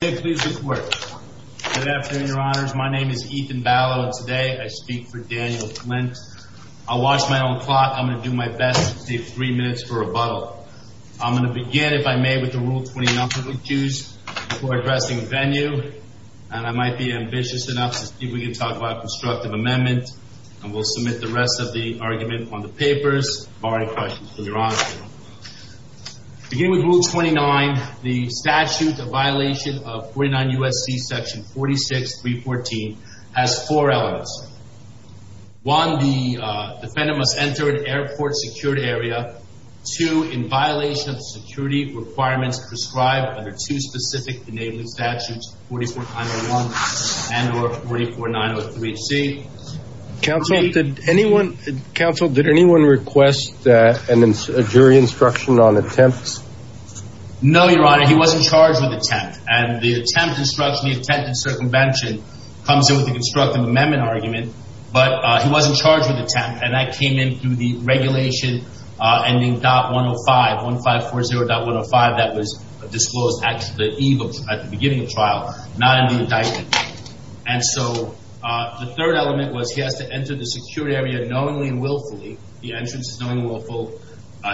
Please report. Good afternoon, your honors. My name is Ethan Ballot and today I speak for Daniel Flint. I'll watch my own clock. I'm going to do my best to save three minutes for rebuttal. I'm going to begin, if I may, with the Rule 29 that we choose before addressing the venue. And I might be ambitious enough to see if we can talk about a constructive amendment. And we'll submit the rest of the argument on the papers, barring questions from your honor. I'll begin with Rule 29. The statute of violation of 49 U.S.C. section 46.314 has four elements. One, the defendant must enter an airport secured area. Two, in violation of security requirements prescribed under two specific enabling statutes, 44901 and or 44903HC. Counsel, did anyone, counsel, did anyone request a jury instruction on attempts? No, your honor. He wasn't charged with attempt. And the attempt instruction, the attempted circumvention comes in with the constructive amendment argument. But he wasn't charged with attempt. And that came in through the regulation ending dot 105, 1540.105 that was disclosed at the eve of, at the beginning of trial, not in the indictment. And so, the third element was he has to enter the secured area knowingly and willfully. The entrance is knowingly willful.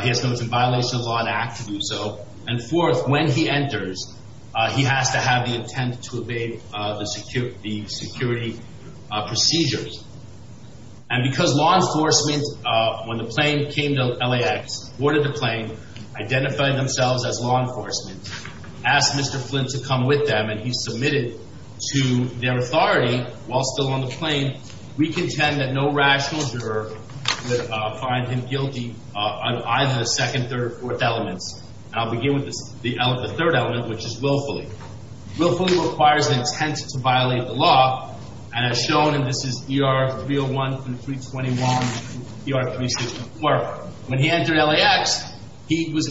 He has no violation of law to act to do so. And fourth, when he enters, he has to have the intent to obey the security procedures. And because law enforcement, when the plane came to LAX, boarded the plane, identified themselves as law enforcement, asked Mr. Flint to come with them, and he submitted to their authority while still on the plane, we contend that no rational juror would find him guilty on either the second, third, or fourth elements. And I'll begin with the third element, which is willfully. Willfully requires an intent to violate the law. And as shown, and this is ER 301 and 321, ER 364. When he entered LAX, he was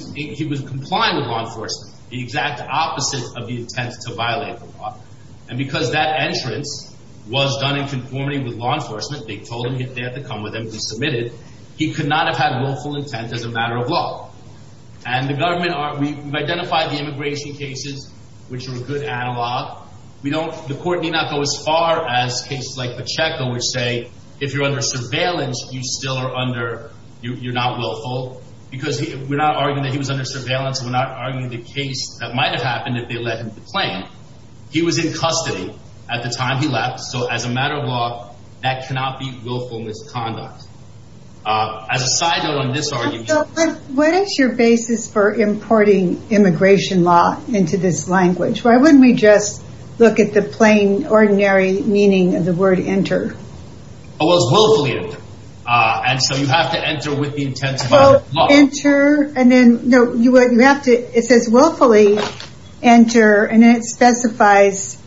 complying with law enforcement. The exact opposite of the intent to violate the law. And because that entrance was done in conformity with law enforcement, they told him they had to come with him, he submitted. He could not have had willful intent as a matter of law. And the government, we've identified the immigration cases, which are a good analog. The court need not go as far as cases like Pacheco, which say, if you're under surveillance, you're not willful. Because we're not arguing that he was under surveillance. He was in custody at the time he left. So as a matter of law, that cannot be willful misconduct. As a side note on this argument. What is your basis for importing immigration law into this language? Why wouldn't we just look at the plain, ordinary meaning of the word enter? Oh, it's willfully enter. And so you have to enter with the intent to violate the law. And then you have to, it says willfully enter and it specifies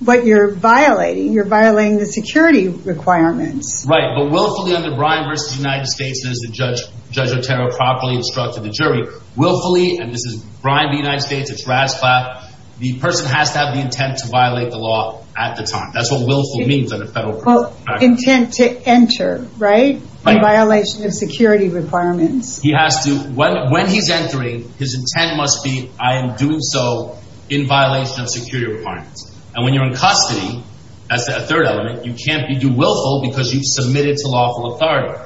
what you're violating. You're violating the security requirements. Right. But willfully under Brian versus the United States, as the judge, Judge Otero properly instructed the jury, willfully, and this is Brian, the United States, it's Rasclatt. The person has to have the intent to violate the law at the time. That's what willful means. Well, intent to enter, right? In violation of security requirements. When he's entering, his intent must be, I am doing so in violation of security requirements. And when you're in custody, as a third element, you can't be do willful because you've submitted to lawful authority.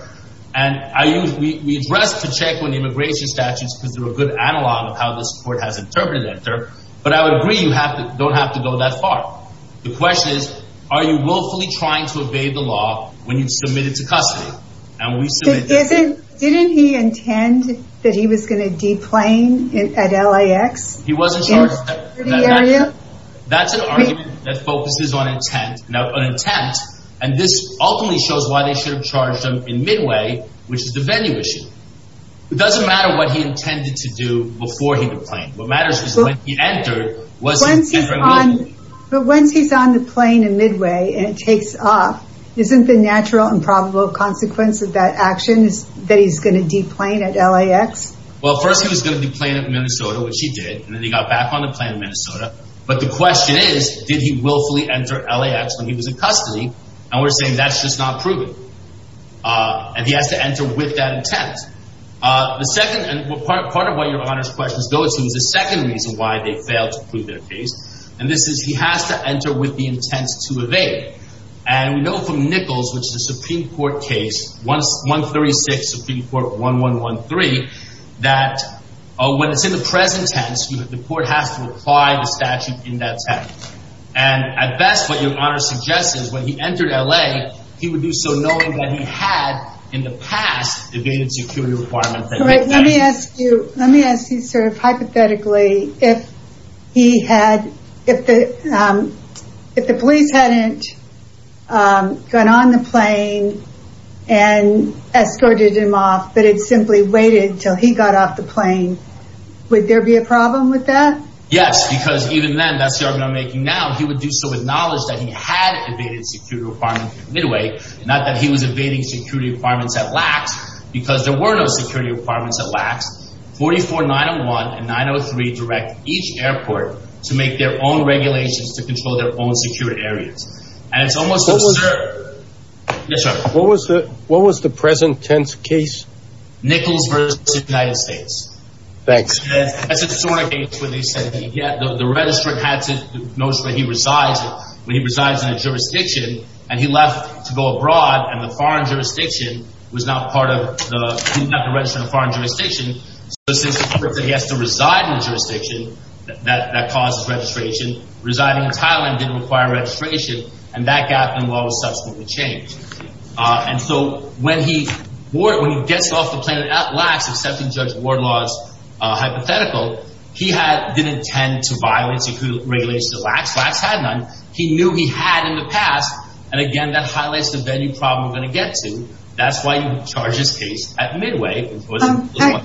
And we addressed the check when the immigration statutes, because they're a good analog of how this court has interpreted enter. But I would agree you don't have to go that far. The question is, are you willfully trying to evade the law when you've submitted to custody? Didn't he intend that he was going to deplane at LAX? He wasn't charged. That's an argument that focuses on intent. Now, an attempt, and this ultimately shows why they should have charged him in midway, which is the venue issue. It doesn't matter what he intended to do before he deplaned. What matters is when he entered. But once he's on the plane in midway and it takes off, isn't the natural and probable consequence of that action that he's going to deplane at LAX? Well, first he was going to deplane at Minnesota, which he did. And then he got back on the plane in Minnesota. But the question is, did he willfully enter LAX when he was in custody? And we're saying that's just not proven. And he has to enter with that intent. The second, and part of what your Honor's questions go to is the second reason why they failed to prove their case. And this is, he has to enter with the intent to evade. And we know from Nichols, which is a Supreme Court case, 136 Supreme Court 1113, that when it's in the present tense, the court has to apply the statute in that text. And at best, what your Honor suggests is when he entered LA, he would do so knowing that he had in the past evaded security requirements. Let me ask you, let me ask you sort of hypothetically, if the police hadn't gone on the plane and escorted him off, but it simply waited until he got off the plane, would there be a problem with that? Yes, because even then, that's the argument I'm making now, he would do so with knowledge that he had evaded security requirements midway. Not that he was evading security requirements at LAX because there were no security requirements at LAX. 44901 and 903 direct each airport to make their own regulations to control their own security areas. And it's almost absurd. What was the present tense case? Nichols versus the United States. Thanks. That's a historic case where they said the registrant had to know where he resides, where he resides in a jurisdiction, and he left to go abroad and the foreign jurisdiction was not part of the, he didn't have to register in a foreign jurisdiction. So he has to reside in a jurisdiction that causes registration. Residing in Thailand didn't require registration and that gap in law was subsequently changed. And so when he gets off the plane at LAX, accepting Judge Wardlaw's hypothetical, he didn't intend to violate security regulations at LAX. LAX had none. He knew he had in the past. And again, that highlights the venue problem we're going to get to. That's why you charge this case at Midway.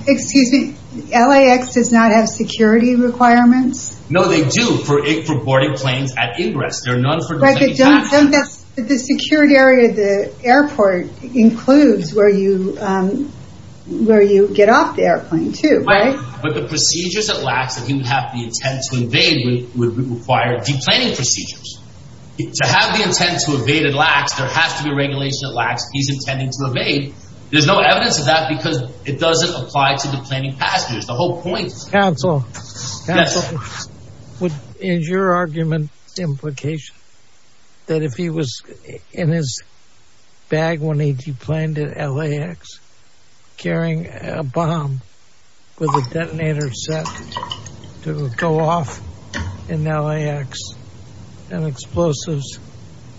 Excuse me, LAX does not have security requirements? No, they do for boarding planes at ingress. They're known for... The security area at the airport includes where you get off the airplane too, right? But the procedures at LAX that he would have the intent to invade would require de-planning procedures. To have the intent to evade at LAX, there has to be regulation at LAX. He's intending to evade. There's no evidence of that because it doesn't apply to the planning procedures. The whole point... Counsel, is your argument implication that if he was in his bag when he de-planned at LAX carrying a bomb with a detonator set to go off in LAX and explosives,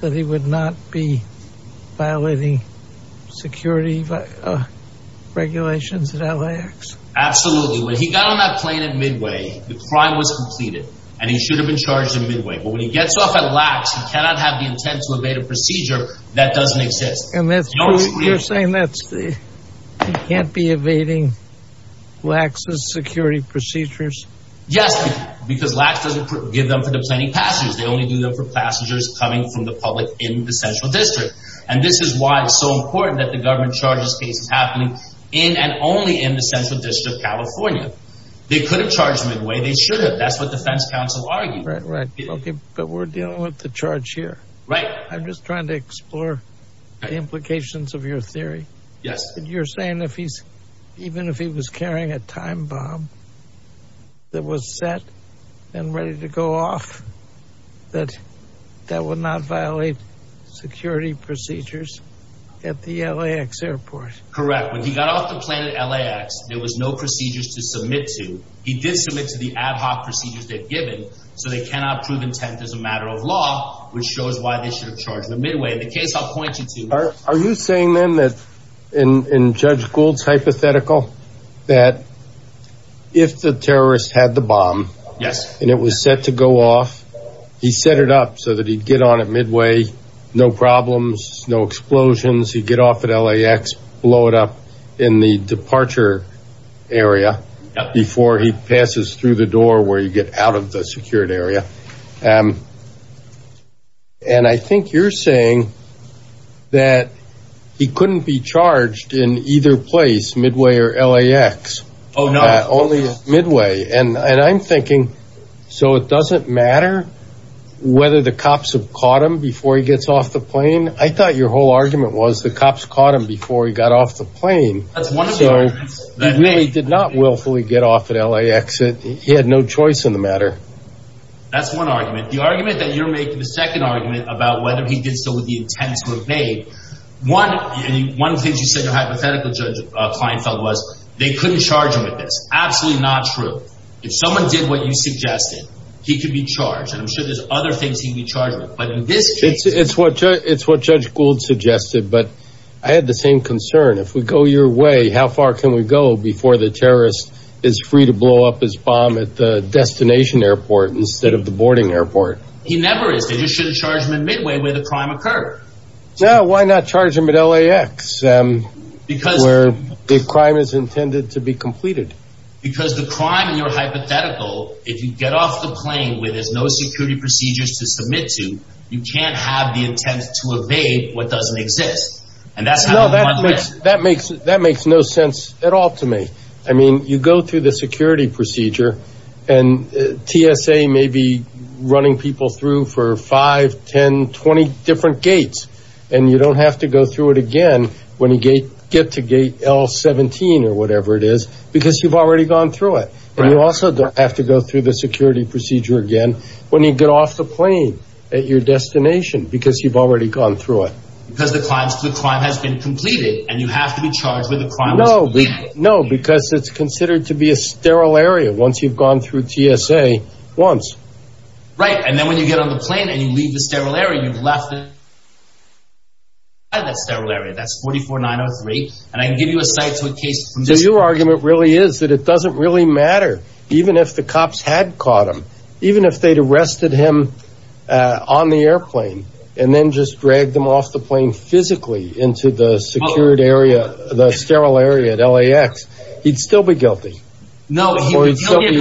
that he would not be violating security regulations at LAX? Absolutely. When he got on that plane at Midway, the crime was completed and he should have been charged in Midway. But when he gets off at LAX, he cannot have the intent to evade a procedure that doesn't exist. And you're saying that he can't be evading LAX's security procedures? Yes. Because LAX doesn't give them for de-planning passengers. They only do them for passengers coming from the public in the Central District. And this is why it's so important that the government charges cases happening in and only in the Central District of California. They could have charged Midway. They should have. That's what defense counsel argued. Right, right. Okay. But we're dealing with the charge here. I'm just trying to explore the implications of your theory. You're saying even if he was carrying a time bomb, that was set and ready to go off, that that would not violate security procedures at the LAX airport? Correct. When he got off the plane at LAX, there was no procedures to submit to. He did submit to the ad hoc procedures they've given. So they cannot prove intent as a matter of law, which shows why they should have charged the Midway. In the case I'll point you to. Are you saying then that, in Judge Gould's hypothetical, that if the terrorist had the bomb and it was set to go off, he set it up so that he'd get on at Midway, no problems, no explosions. He'd get off at LAX, blow it up in the departure area before he passes through the door where you get out of the secured area. And I think you're saying that he couldn't be charged in either place, Midway or LAX. Oh, no. Only Midway. And I'm thinking, so it doesn't matter whether the cops have caught him before he gets off the plane? I thought your whole argument was the cops caught him before he got off the plane. So he really did not willfully get off at LAX. He had no choice in the matter. That's one argument. The argument that you're making, the second argument about whether he did so with the intent to evade. One thing you said your hypothetical client felt was they couldn't charge him with this. Absolutely not true. If someone did what you suggested, he could be charged. And I'm sure there's other things he could be charged with. But in this case... It's what Judge Gould suggested. But I had the same concern. If we go your way, how far can we go before the terrorist is free to blow up his bomb at the destination airport instead of the boarding airport? He never is. They just shouldn't charge him in Midway where the crime occurred. Yeah, why not charge him at LAX where the crime is intended to be completed? Because the crime in your hypothetical, if you get off the plane where there's no security procedures to submit to, you can't have the intent to evade what doesn't exist. No, that makes no sense at all to me. I mean, you go through the security procedure and TSA may be running people through for 5, 10, 20 different gates. And you don't have to go through it again when you get to gate L17 or whatever it is, because you've already gone through it. And you also don't have to go through the security procedure again when you get off the plane. No, because it's considered to be a sterile area once you've gone through TSA once. Right. And then when you get on the plane and you leave the sterile area, you've left that sterile area. That's 44903. And I can give you a site to a case. So your argument really is that it doesn't really matter even if the cops had caught him, even if they'd arrested him on the airplane and then just dragged him off the plane physically into the secured area, the sterile area at LAX, he'd still be guilty. No, he'd be guilty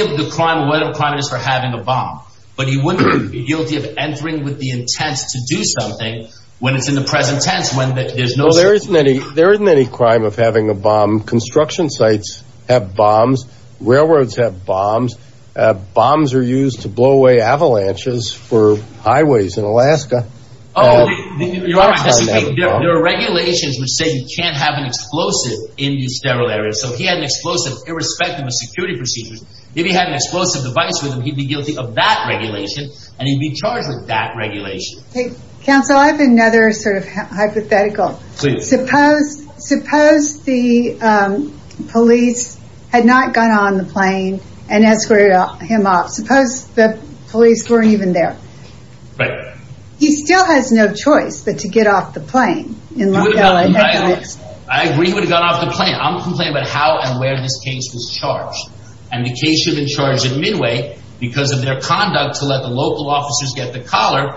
of the crime, whether the crime is for having a bomb, but he wouldn't be guilty of entering with the intent to do something when it's in the present tense when there's no security. There isn't any crime of having a bomb. Construction sites have bombs. Railroads have bombs. Bombs are used to blow away avalanches for highways in Alaska. There are regulations which say you can't have an explosive in the sterile area. So he had an explosive irrespective of security procedures. If he had an explosive device with him, he'd be guilty of that regulation and he'd be charged with that regulation. Counsel, I have another sort of hypothetical. Suppose the police had not gone on the plane and escorted him off. Suppose the police weren't even there. He still has no choice but to get off the plane. I agree he would have gone off the plane. I'm complaining about how and where this case was charged. And the case should have been charged in Midway because of their conduct to let the collar.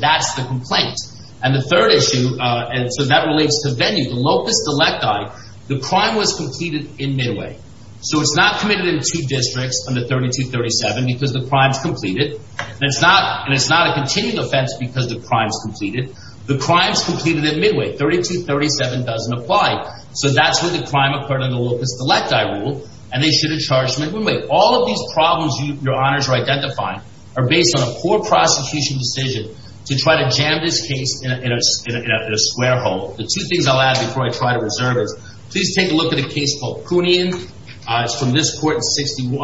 That's the complaint. And the third issue, and so that relates to venue, the locust electi, the crime was completed in Midway. So it's not committed in two districts under 3237 because the crime's completed. And it's not a continuing offense because the crime's completed. The crime's completed in Midway. 3237 doesn't apply. So that's where the crime occurred in the locust electi rule. And they should have charged him in Midway. All of these problems, your honors are identifying, are based on a poor prosecution decision to try to jam this case in a square hole. The two things I'll add before I try to reserve is, please take a look at a case called Poonian. It's from this court in 61,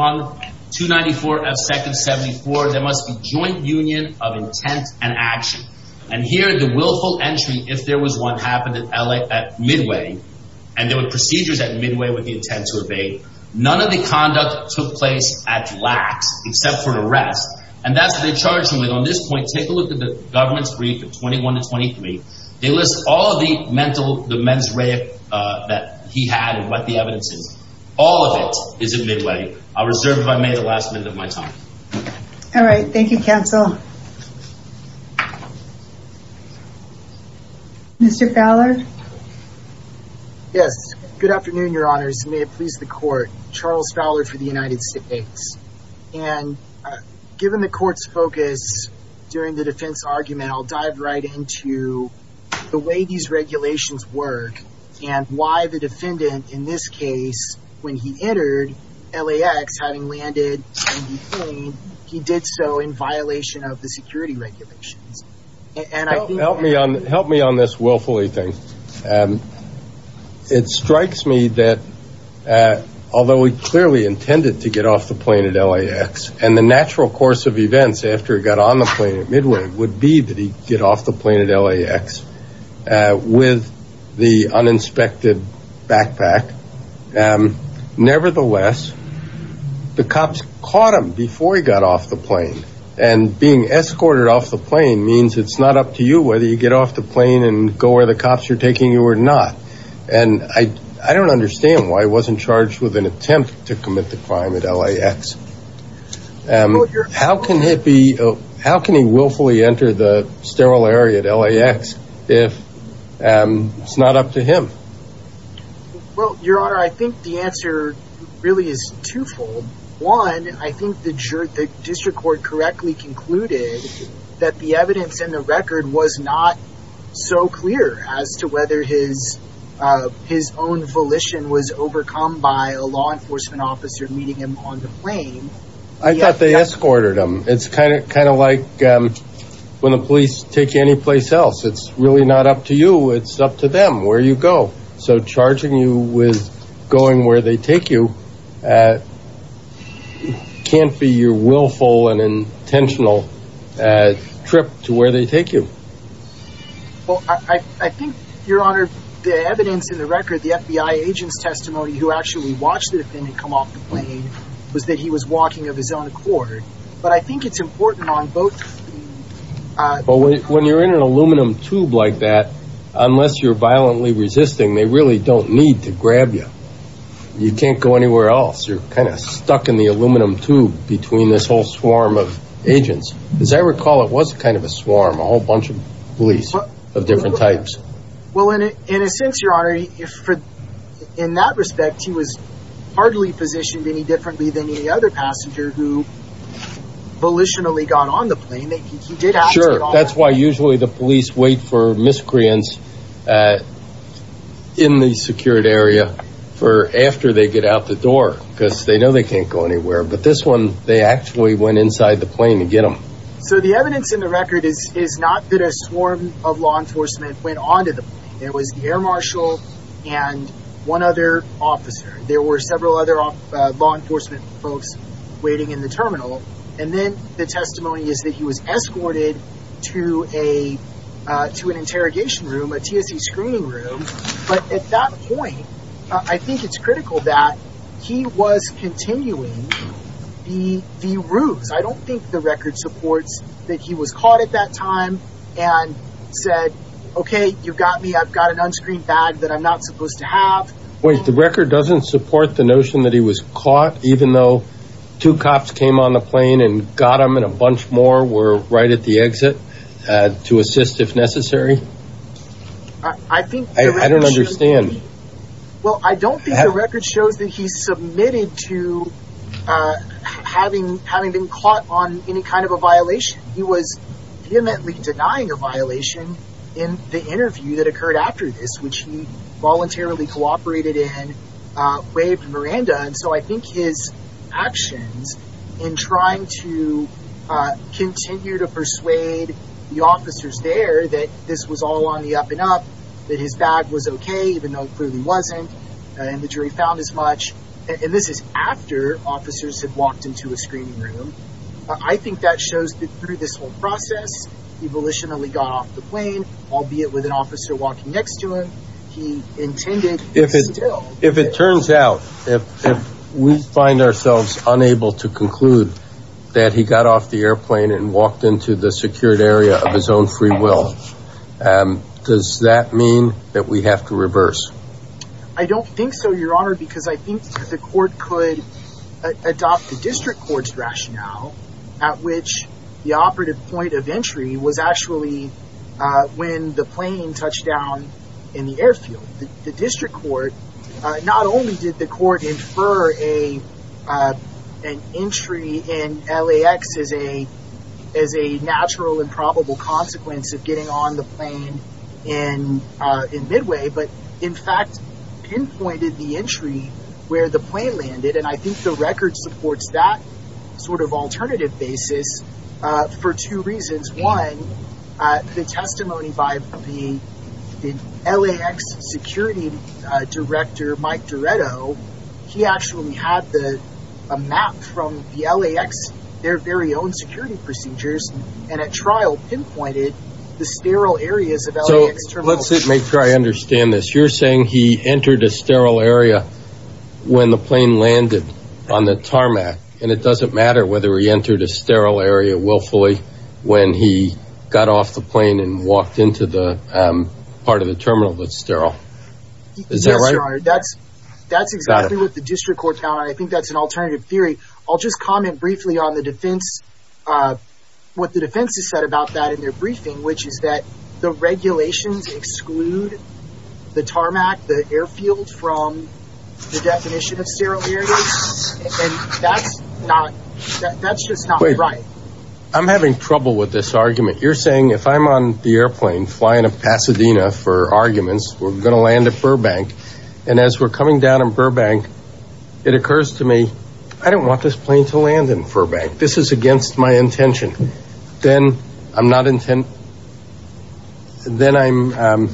294 F. Second, 74. There must be joint union of intent and action. And here the willful entry, if there was one, happened at Midway. And there were procedures at Midway with the intent to evade. None of the except for the rest. And that's what they charged him with. On this point, take a look at the government's brief of 21 to 23. They list all of the mental, the mens rea that he had and what the evidence is. All of it is at Midway. I'll reserve it by May, the last minute of my time. All right. Thank you, counsel. Mr. Fowler. Yes. Good afternoon, your honors. May it please the court. Charles Fowler for the United States. And given the court's focus during the defense argument, I'll dive right into the way these regulations work and why the defendant in this case, when he entered LAX, having landed in the plane, he did so in violation of the security regulations. And help me on help me on this willfully thing. And it strikes me that although we clearly intended to get off the plane at LAX and the natural course of events after he got on the plane at Midway would be that he get off the plane at LAX with the uninspected backpack. Nevertheless, the cops caught him before he got off the plane and being escorted off the means it's not up to you whether you get off the plane and go where the cops are taking you or not. And I don't understand why he wasn't charged with an attempt to commit the crime at LAX. How can he willfully enter the sterile area at LAX if it's not up to him? Well, your honor, I think the answer really is twofold. One, I think the district court correctly concluded that the evidence in the record was not so clear as to whether his own volition was overcome by a law enforcement officer meeting him on the plane. I thought they escorted him. It's kind of like when the police take you anyplace else. It's really not up to you. It's up to them where you go. So charging you with going where they take you can't be your willful and intentional trip to where they take you. Well, I think, your honor, the evidence in the record, the FBI agent's testimony who actually watched the defendant come off the plane was that he was walking of his own accord. But I think it's important on both. When you're in an aluminum tube like that, unless you're violently resisting, they really don't need to grab you. You can't go anywhere else. You're kind of stuck in the aluminum tube between this whole swarm of agents. As I recall, it was kind of a swarm, a whole bunch of police of different types. Well, in a sense, your honor, in that respect, he was hardly positioned any differently than any other passenger who volitionally got on the plane. Sure. That's why usually the police wait for miscreants in the secured area for after they get out the door, because they know they can't go anywhere. But this one, they actually went inside the plane to get them. So the evidence in the record is not that a swarm of law enforcement went onto the plane. It was the air marshal and one other officer. There were several other law enforcement folks waiting in the terminal. And then the testimony is that he was escorted to an interrogation room, a TSC screening room. But at that point, I think it's critical that he was continuing the ruse. I don't think the record supports that he was caught at that time and said, OK, you've got me. I've got an unscreened bag that I'm not supposed to have. Wait, the record doesn't support the notion that he was caught, even though two cops came on the plane and got him and a bunch more were right at the exit to assist if necessary? I think I don't understand. Well, I don't think the record shows that he submitted to having having been caught on any kind of a violation. He was vehemently denying a violation in the interview that occurred after this, which he voluntarily cooperated in, waved Miranda. And so I think his actions in trying to continue to persuade the officers there that this was all on the up and up, that his bag was OK, even though it clearly wasn't, and the jury found as much. And this is after officers had walked into a screening room. I think that shows that through this whole process, he volitionally got off the plane, albeit with an officer walking next to him. He intended. If it turns out that we find ourselves unable to conclude that he got off the airplane and walked into the secured area of his own free will, does that mean that we have to reverse? I don't think so, Your Honor, because I think the court could adopt the district court's rationale at which the operative point of entry was actually when the plane touched down in the airfield. The district court, not only did the court infer an entry in LAX as a as a natural and probable consequence of getting on the plane in Midway, but in fact pinpointed the entry where the plane landed. And I think the record supports that sort of alternative basis for two reasons. One, the testimony by the LAX security director, Mike Diretto, he actually had a map from the LAX, their very own security procedures, and at trial pinpointed the sterile areas of LAX. So let's make sure I understand this. You're saying he entered a sterile area when the plane landed on the tarmac, and it doesn't matter whether he entered a sterile area willfully when he got off the plane and walked into the part of the terminal that's sterile. Is that right? That's that's exactly what the district court found. I think that's an alternative theory. I'll just comment briefly on the defense. What the defense has said about that in their briefing, which is that the regulations exclude the tarmac, the airfield from the definition of sterile areas. And that's not that's just not right. I'm having trouble with this argument. You're saying if I'm on the airplane flying to Pasadena for arguments, we're going to land at Burbank. And as we're going to land in Burbank, this is against my intention. Then I'm not intent. Then I'm.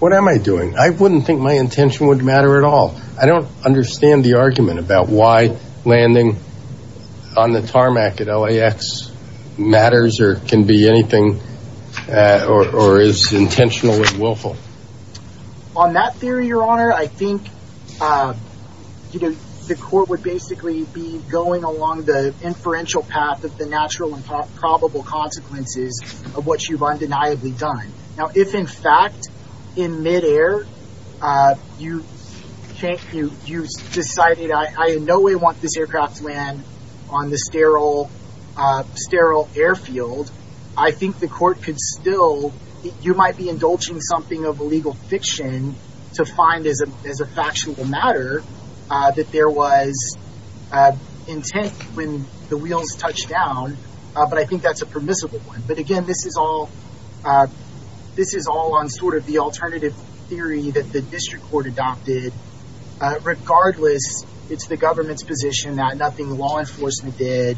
What am I doing? I wouldn't think my intention would matter at all. I don't understand the argument about why landing on the tarmac at LAX matters or can be anything or is intentionally willful. On that theory, your honor, I think, you know, the court would basically be going along the inferential path of the natural and probable consequences of what you've undeniably done. Now, if, in fact, in midair, you think you you decided I in no way want this aircraft to land on the sterile sterile airfield, I think the court could still you might be indulging something of illegal fiction to find as a as a factual matter that there was intent when the wheels touched down. But I think that's a permissible one. But again, this is all this is all on sort of the alternative theory that the district court adopted. Regardless, it's the government's position that nothing the law enforcement did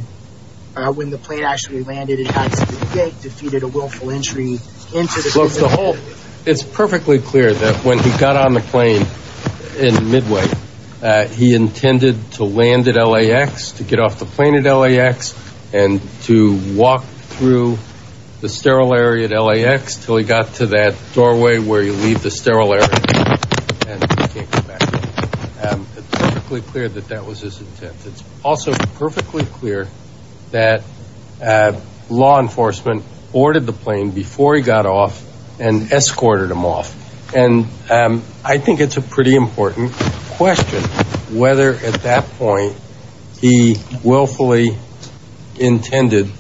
when the plane actually landed, it defeated a willful entry into the whole. It's perfectly clear that when he got on the plane in Midway, he intended to land at LAX to get off the plane at LAX and to walk through the sterile area at LAX till he got to that doorway where you leave the sterile air. It's perfectly clear that that was it's also perfectly clear that law enforcement ordered the plane before he got off and escorted him off. And I think it's a pretty important question whether at that point he willfully intended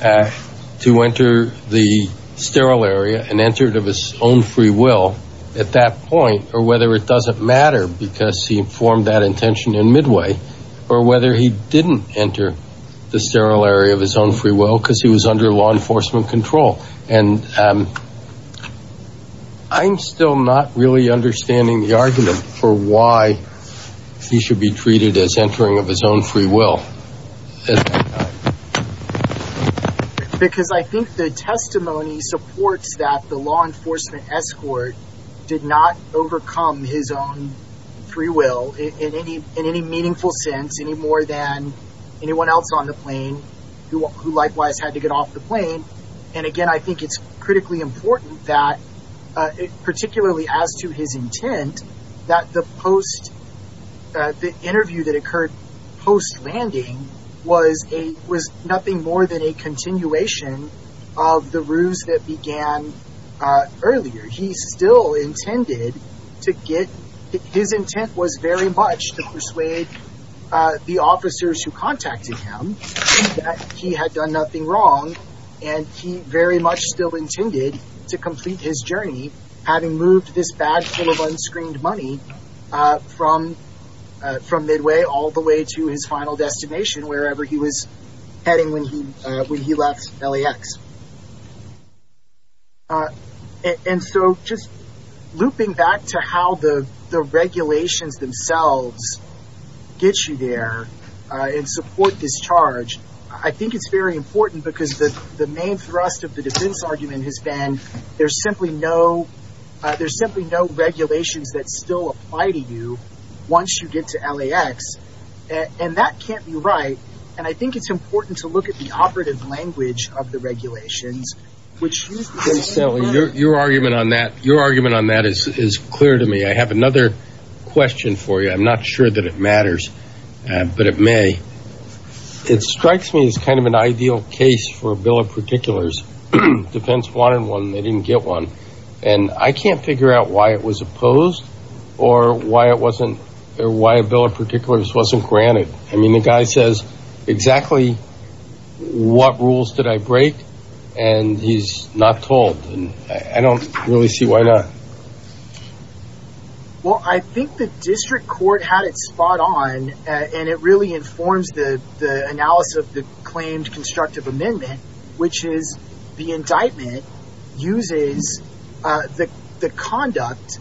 to enter the sterile area and entered of his own free will at that point or whether it doesn't matter because he formed that intention in Midway or whether he didn't enter the sterile area of his own free will because he was under law enforcement control. And I'm still not really understanding the argument for why he should be treated as entering of his own free will. Because I think the testimony supports that the law enforcement escort did not overcome his own free will in any meaningful sense, any more than anyone else on the plane who likewise had to get off the plane. And again, I think it's critically important that, particularly as to his intent, that the interview that occurred post landing was a was nothing more than a continuation of the ruse that began earlier. He still intended to get his intent was very much to persuade the officers who contacted him that he had done nothing wrong and he very much still intended to complete his journey having moved this bag full of unscreened money from Midway all the way to his final destination wherever he was heading when he left LAX. And so just looping back to how the regulations themselves get you there and support this charge, I think it's very important because the main thrust of the defense argument has been there's simply no regulations that still apply to you once you get to LAX. And that can't be right. And I think it's important to look at the operative language of the regulations. Your argument on that is clear to me. I have another question for you. I'm not sure that matters, but it may. It strikes me as kind of an ideal case for a bill of particulars. Defense wanted one. They didn't get one. And I can't figure out why it was opposed or why it wasn't or why a bill of particulars wasn't granted. I mean, the guy says exactly what rules did I break and he's not told. And I don't really see why not. Well, I think the district court had it on and it really informs the analysis of the claimed constructive amendment, which is the indictment uses the conduct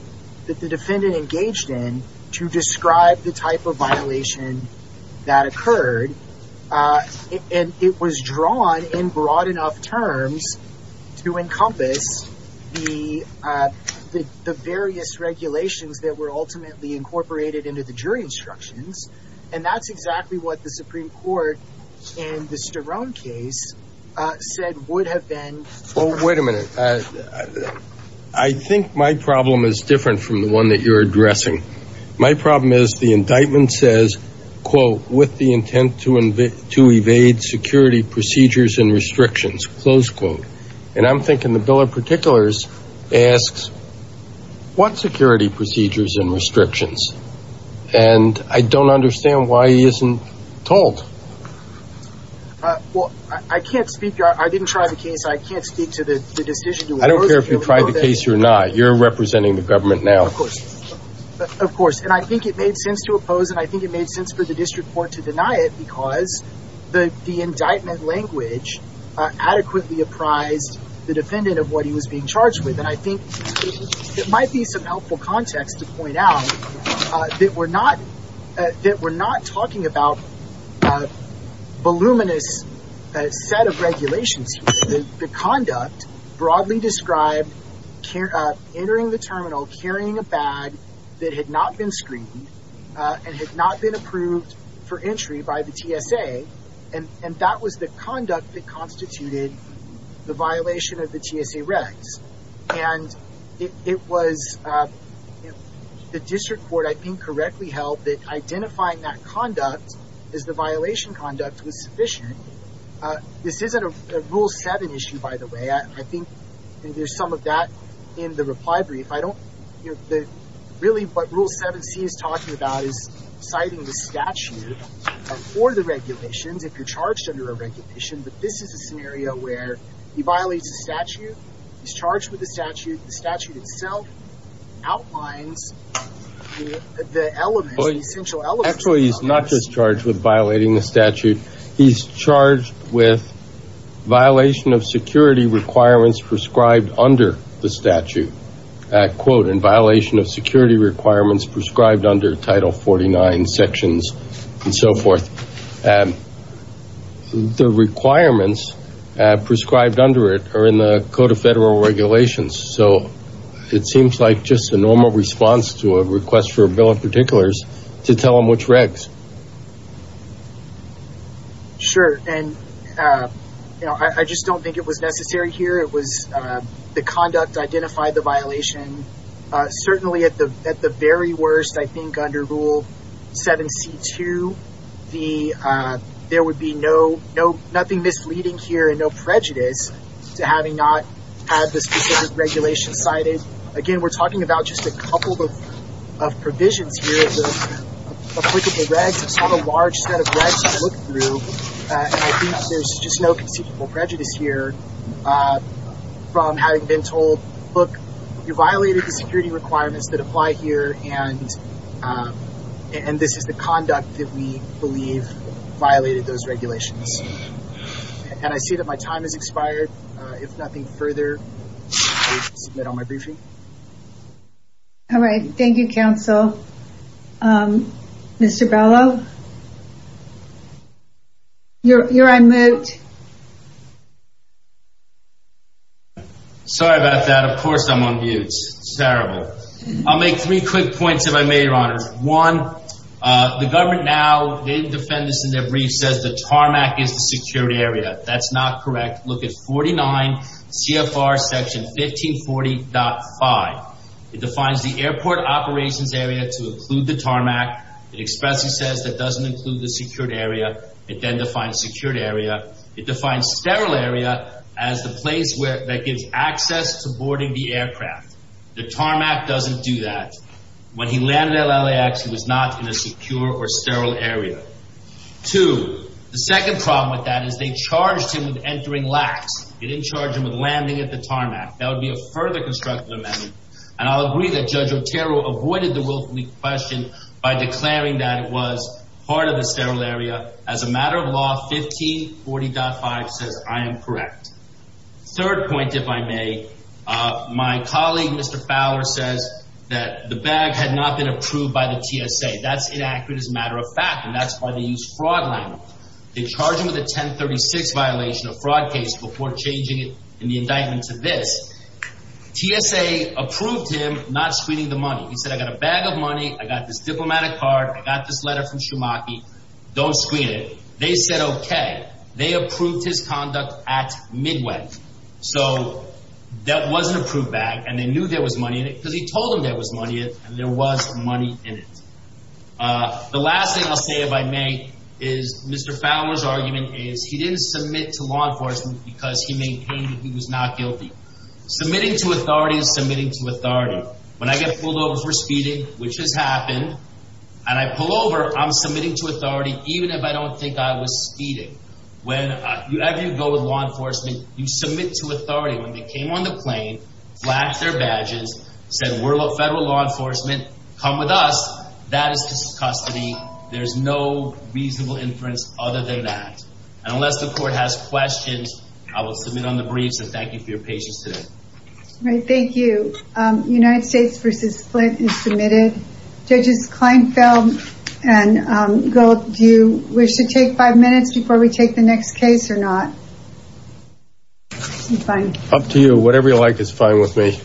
that the defendant engaged in to describe the type of violation that occurred. And it was drawn in broad enough terms to encompass the various regulations that were ultimately incorporated into the jury instructions. And that's exactly what the Supreme Court in the Sterome case said would have been. Oh, wait a minute. I think my problem is different from the one that you're addressing. My problem is the indictment says, quote, with the intent to invade, to evade security procedures and restrictions, close quote. And I'm thinking the bill of particulars asks what security procedures and restrictions. And I don't understand why he isn't told. Well, I can't speak. I didn't try the case. I can't speak to the decision. I don't care if you tried the case or not. You're representing the government now. Of course. And I think it made sense to oppose and I think it made sense for the district court to deny it because the indictment language adequately apprised the defendant of what he was being charged with. And I think it might be some helpful context to point out that we're not talking about voluminous set of regulations. The conduct broadly described entering the terminal, carrying a bag that had not been screened and had not been approved for entry by the TSA. And that was the conduct that constituted the violation of the TSA regs. And it was the district court, I think, correctly held that identifying that conduct as the violation conduct was sufficient. This isn't a rule seven issue, by the way. I think there's some of that in the really what rule 7C is talking about is citing the statute for the regulations if you're charged under a regulation. But this is a scenario where he violates the statute. He's charged with the statute. The statute itself outlines the element, the essential element. Actually, he's not just charged with violating the statute. He's charged with violation of security requirements prescribed under the statute. Quote, in violation of security requirements prescribed under Title 49 sections and so forth. The requirements prescribed under it are in the Code of Federal Regulations. So it seems like just a normal response to a request for a bill of particulars to tell him which regs. Sure. And, you know, I just don't think it was necessary here. It was the conduct identified the violation. Certainly, at the very worst, I think, under rule 7C2, there would be no, no, nothing misleading here and no prejudice to having not had the specific regulation cited. Again, we're talking about just a couple of provisions here. It was applicable regs, on a large set of regs to look through. And I think there's just no conceivable prejudice here from having been told, look, you violated the security requirements that apply here, and this is the conduct that we believe violated those regulations. And I see that my time has expired. If nothing further, I will submit on my briefing. All right. Thank you, counsel. Mr. Bellow? You're on mute. Sorry about that. Of course, I'm on mute. It's terrible. I'll make three quick points if I may, Your Honors. One, the government now, they defend this in their brief, says the tarmac is the secured area. That's not correct. Look at 49 CFR section 1540.5. It defines the airport operations area to include the tarmac. It expressly says that doesn't include the secured area. It then defines secured area. It defines sterile area as the place where, that gives access to boarding the aircraft. The tarmac doesn't do that. When he landed at LAX, he was not in a secure or with that as they charged him with entering LAX. They didn't charge him with landing at the tarmac. That would be a further constructive amendment. And I'll agree that Judge Otero avoided the question by declaring that it was part of the sterile area. As a matter of law, 1540.5 says I am correct. Third point, if I may, my colleague, Mr. Fowler, says that the bag had not been approved by the TSA. That's inaccurate as a matter of fact. And that's why they use fraud language. They charge him with a 1036 violation of fraud case before changing it in the indictment to this. TSA approved him not screening the money. He said, I got a bag of money. I got this diplomatic card. I got this letter from Schumacher. Don't screen it. They said, okay. They approved his conduct at Midway. So that was an approved bag and they knew there was money in it because he told them and there was money in it. The last thing I'll say, if I may, is Mr. Fowler's argument is he didn't submit to law enforcement because he maintained he was not guilty. Submitting to authority is submitting to authority. When I get pulled over for speeding, which has happened, and I pull over, I'm submitting to authority, even if I don't think I was speeding. Whenever you go with law enforcement, you submit to authority. When they came on the plane, flagged their badges, said we're federal law enforcement, come with us. That is just custody. There's no reasonable inference other than that. Unless the court has questions, I will submit on the briefs and thank you for your patience today. Thank you. United States versus Flint is submitted. Judges Kleinfeld and Gold, do you wish to take five minutes before we take the next case or not? I'm fine. Up to you. Whatever you like is fine with me.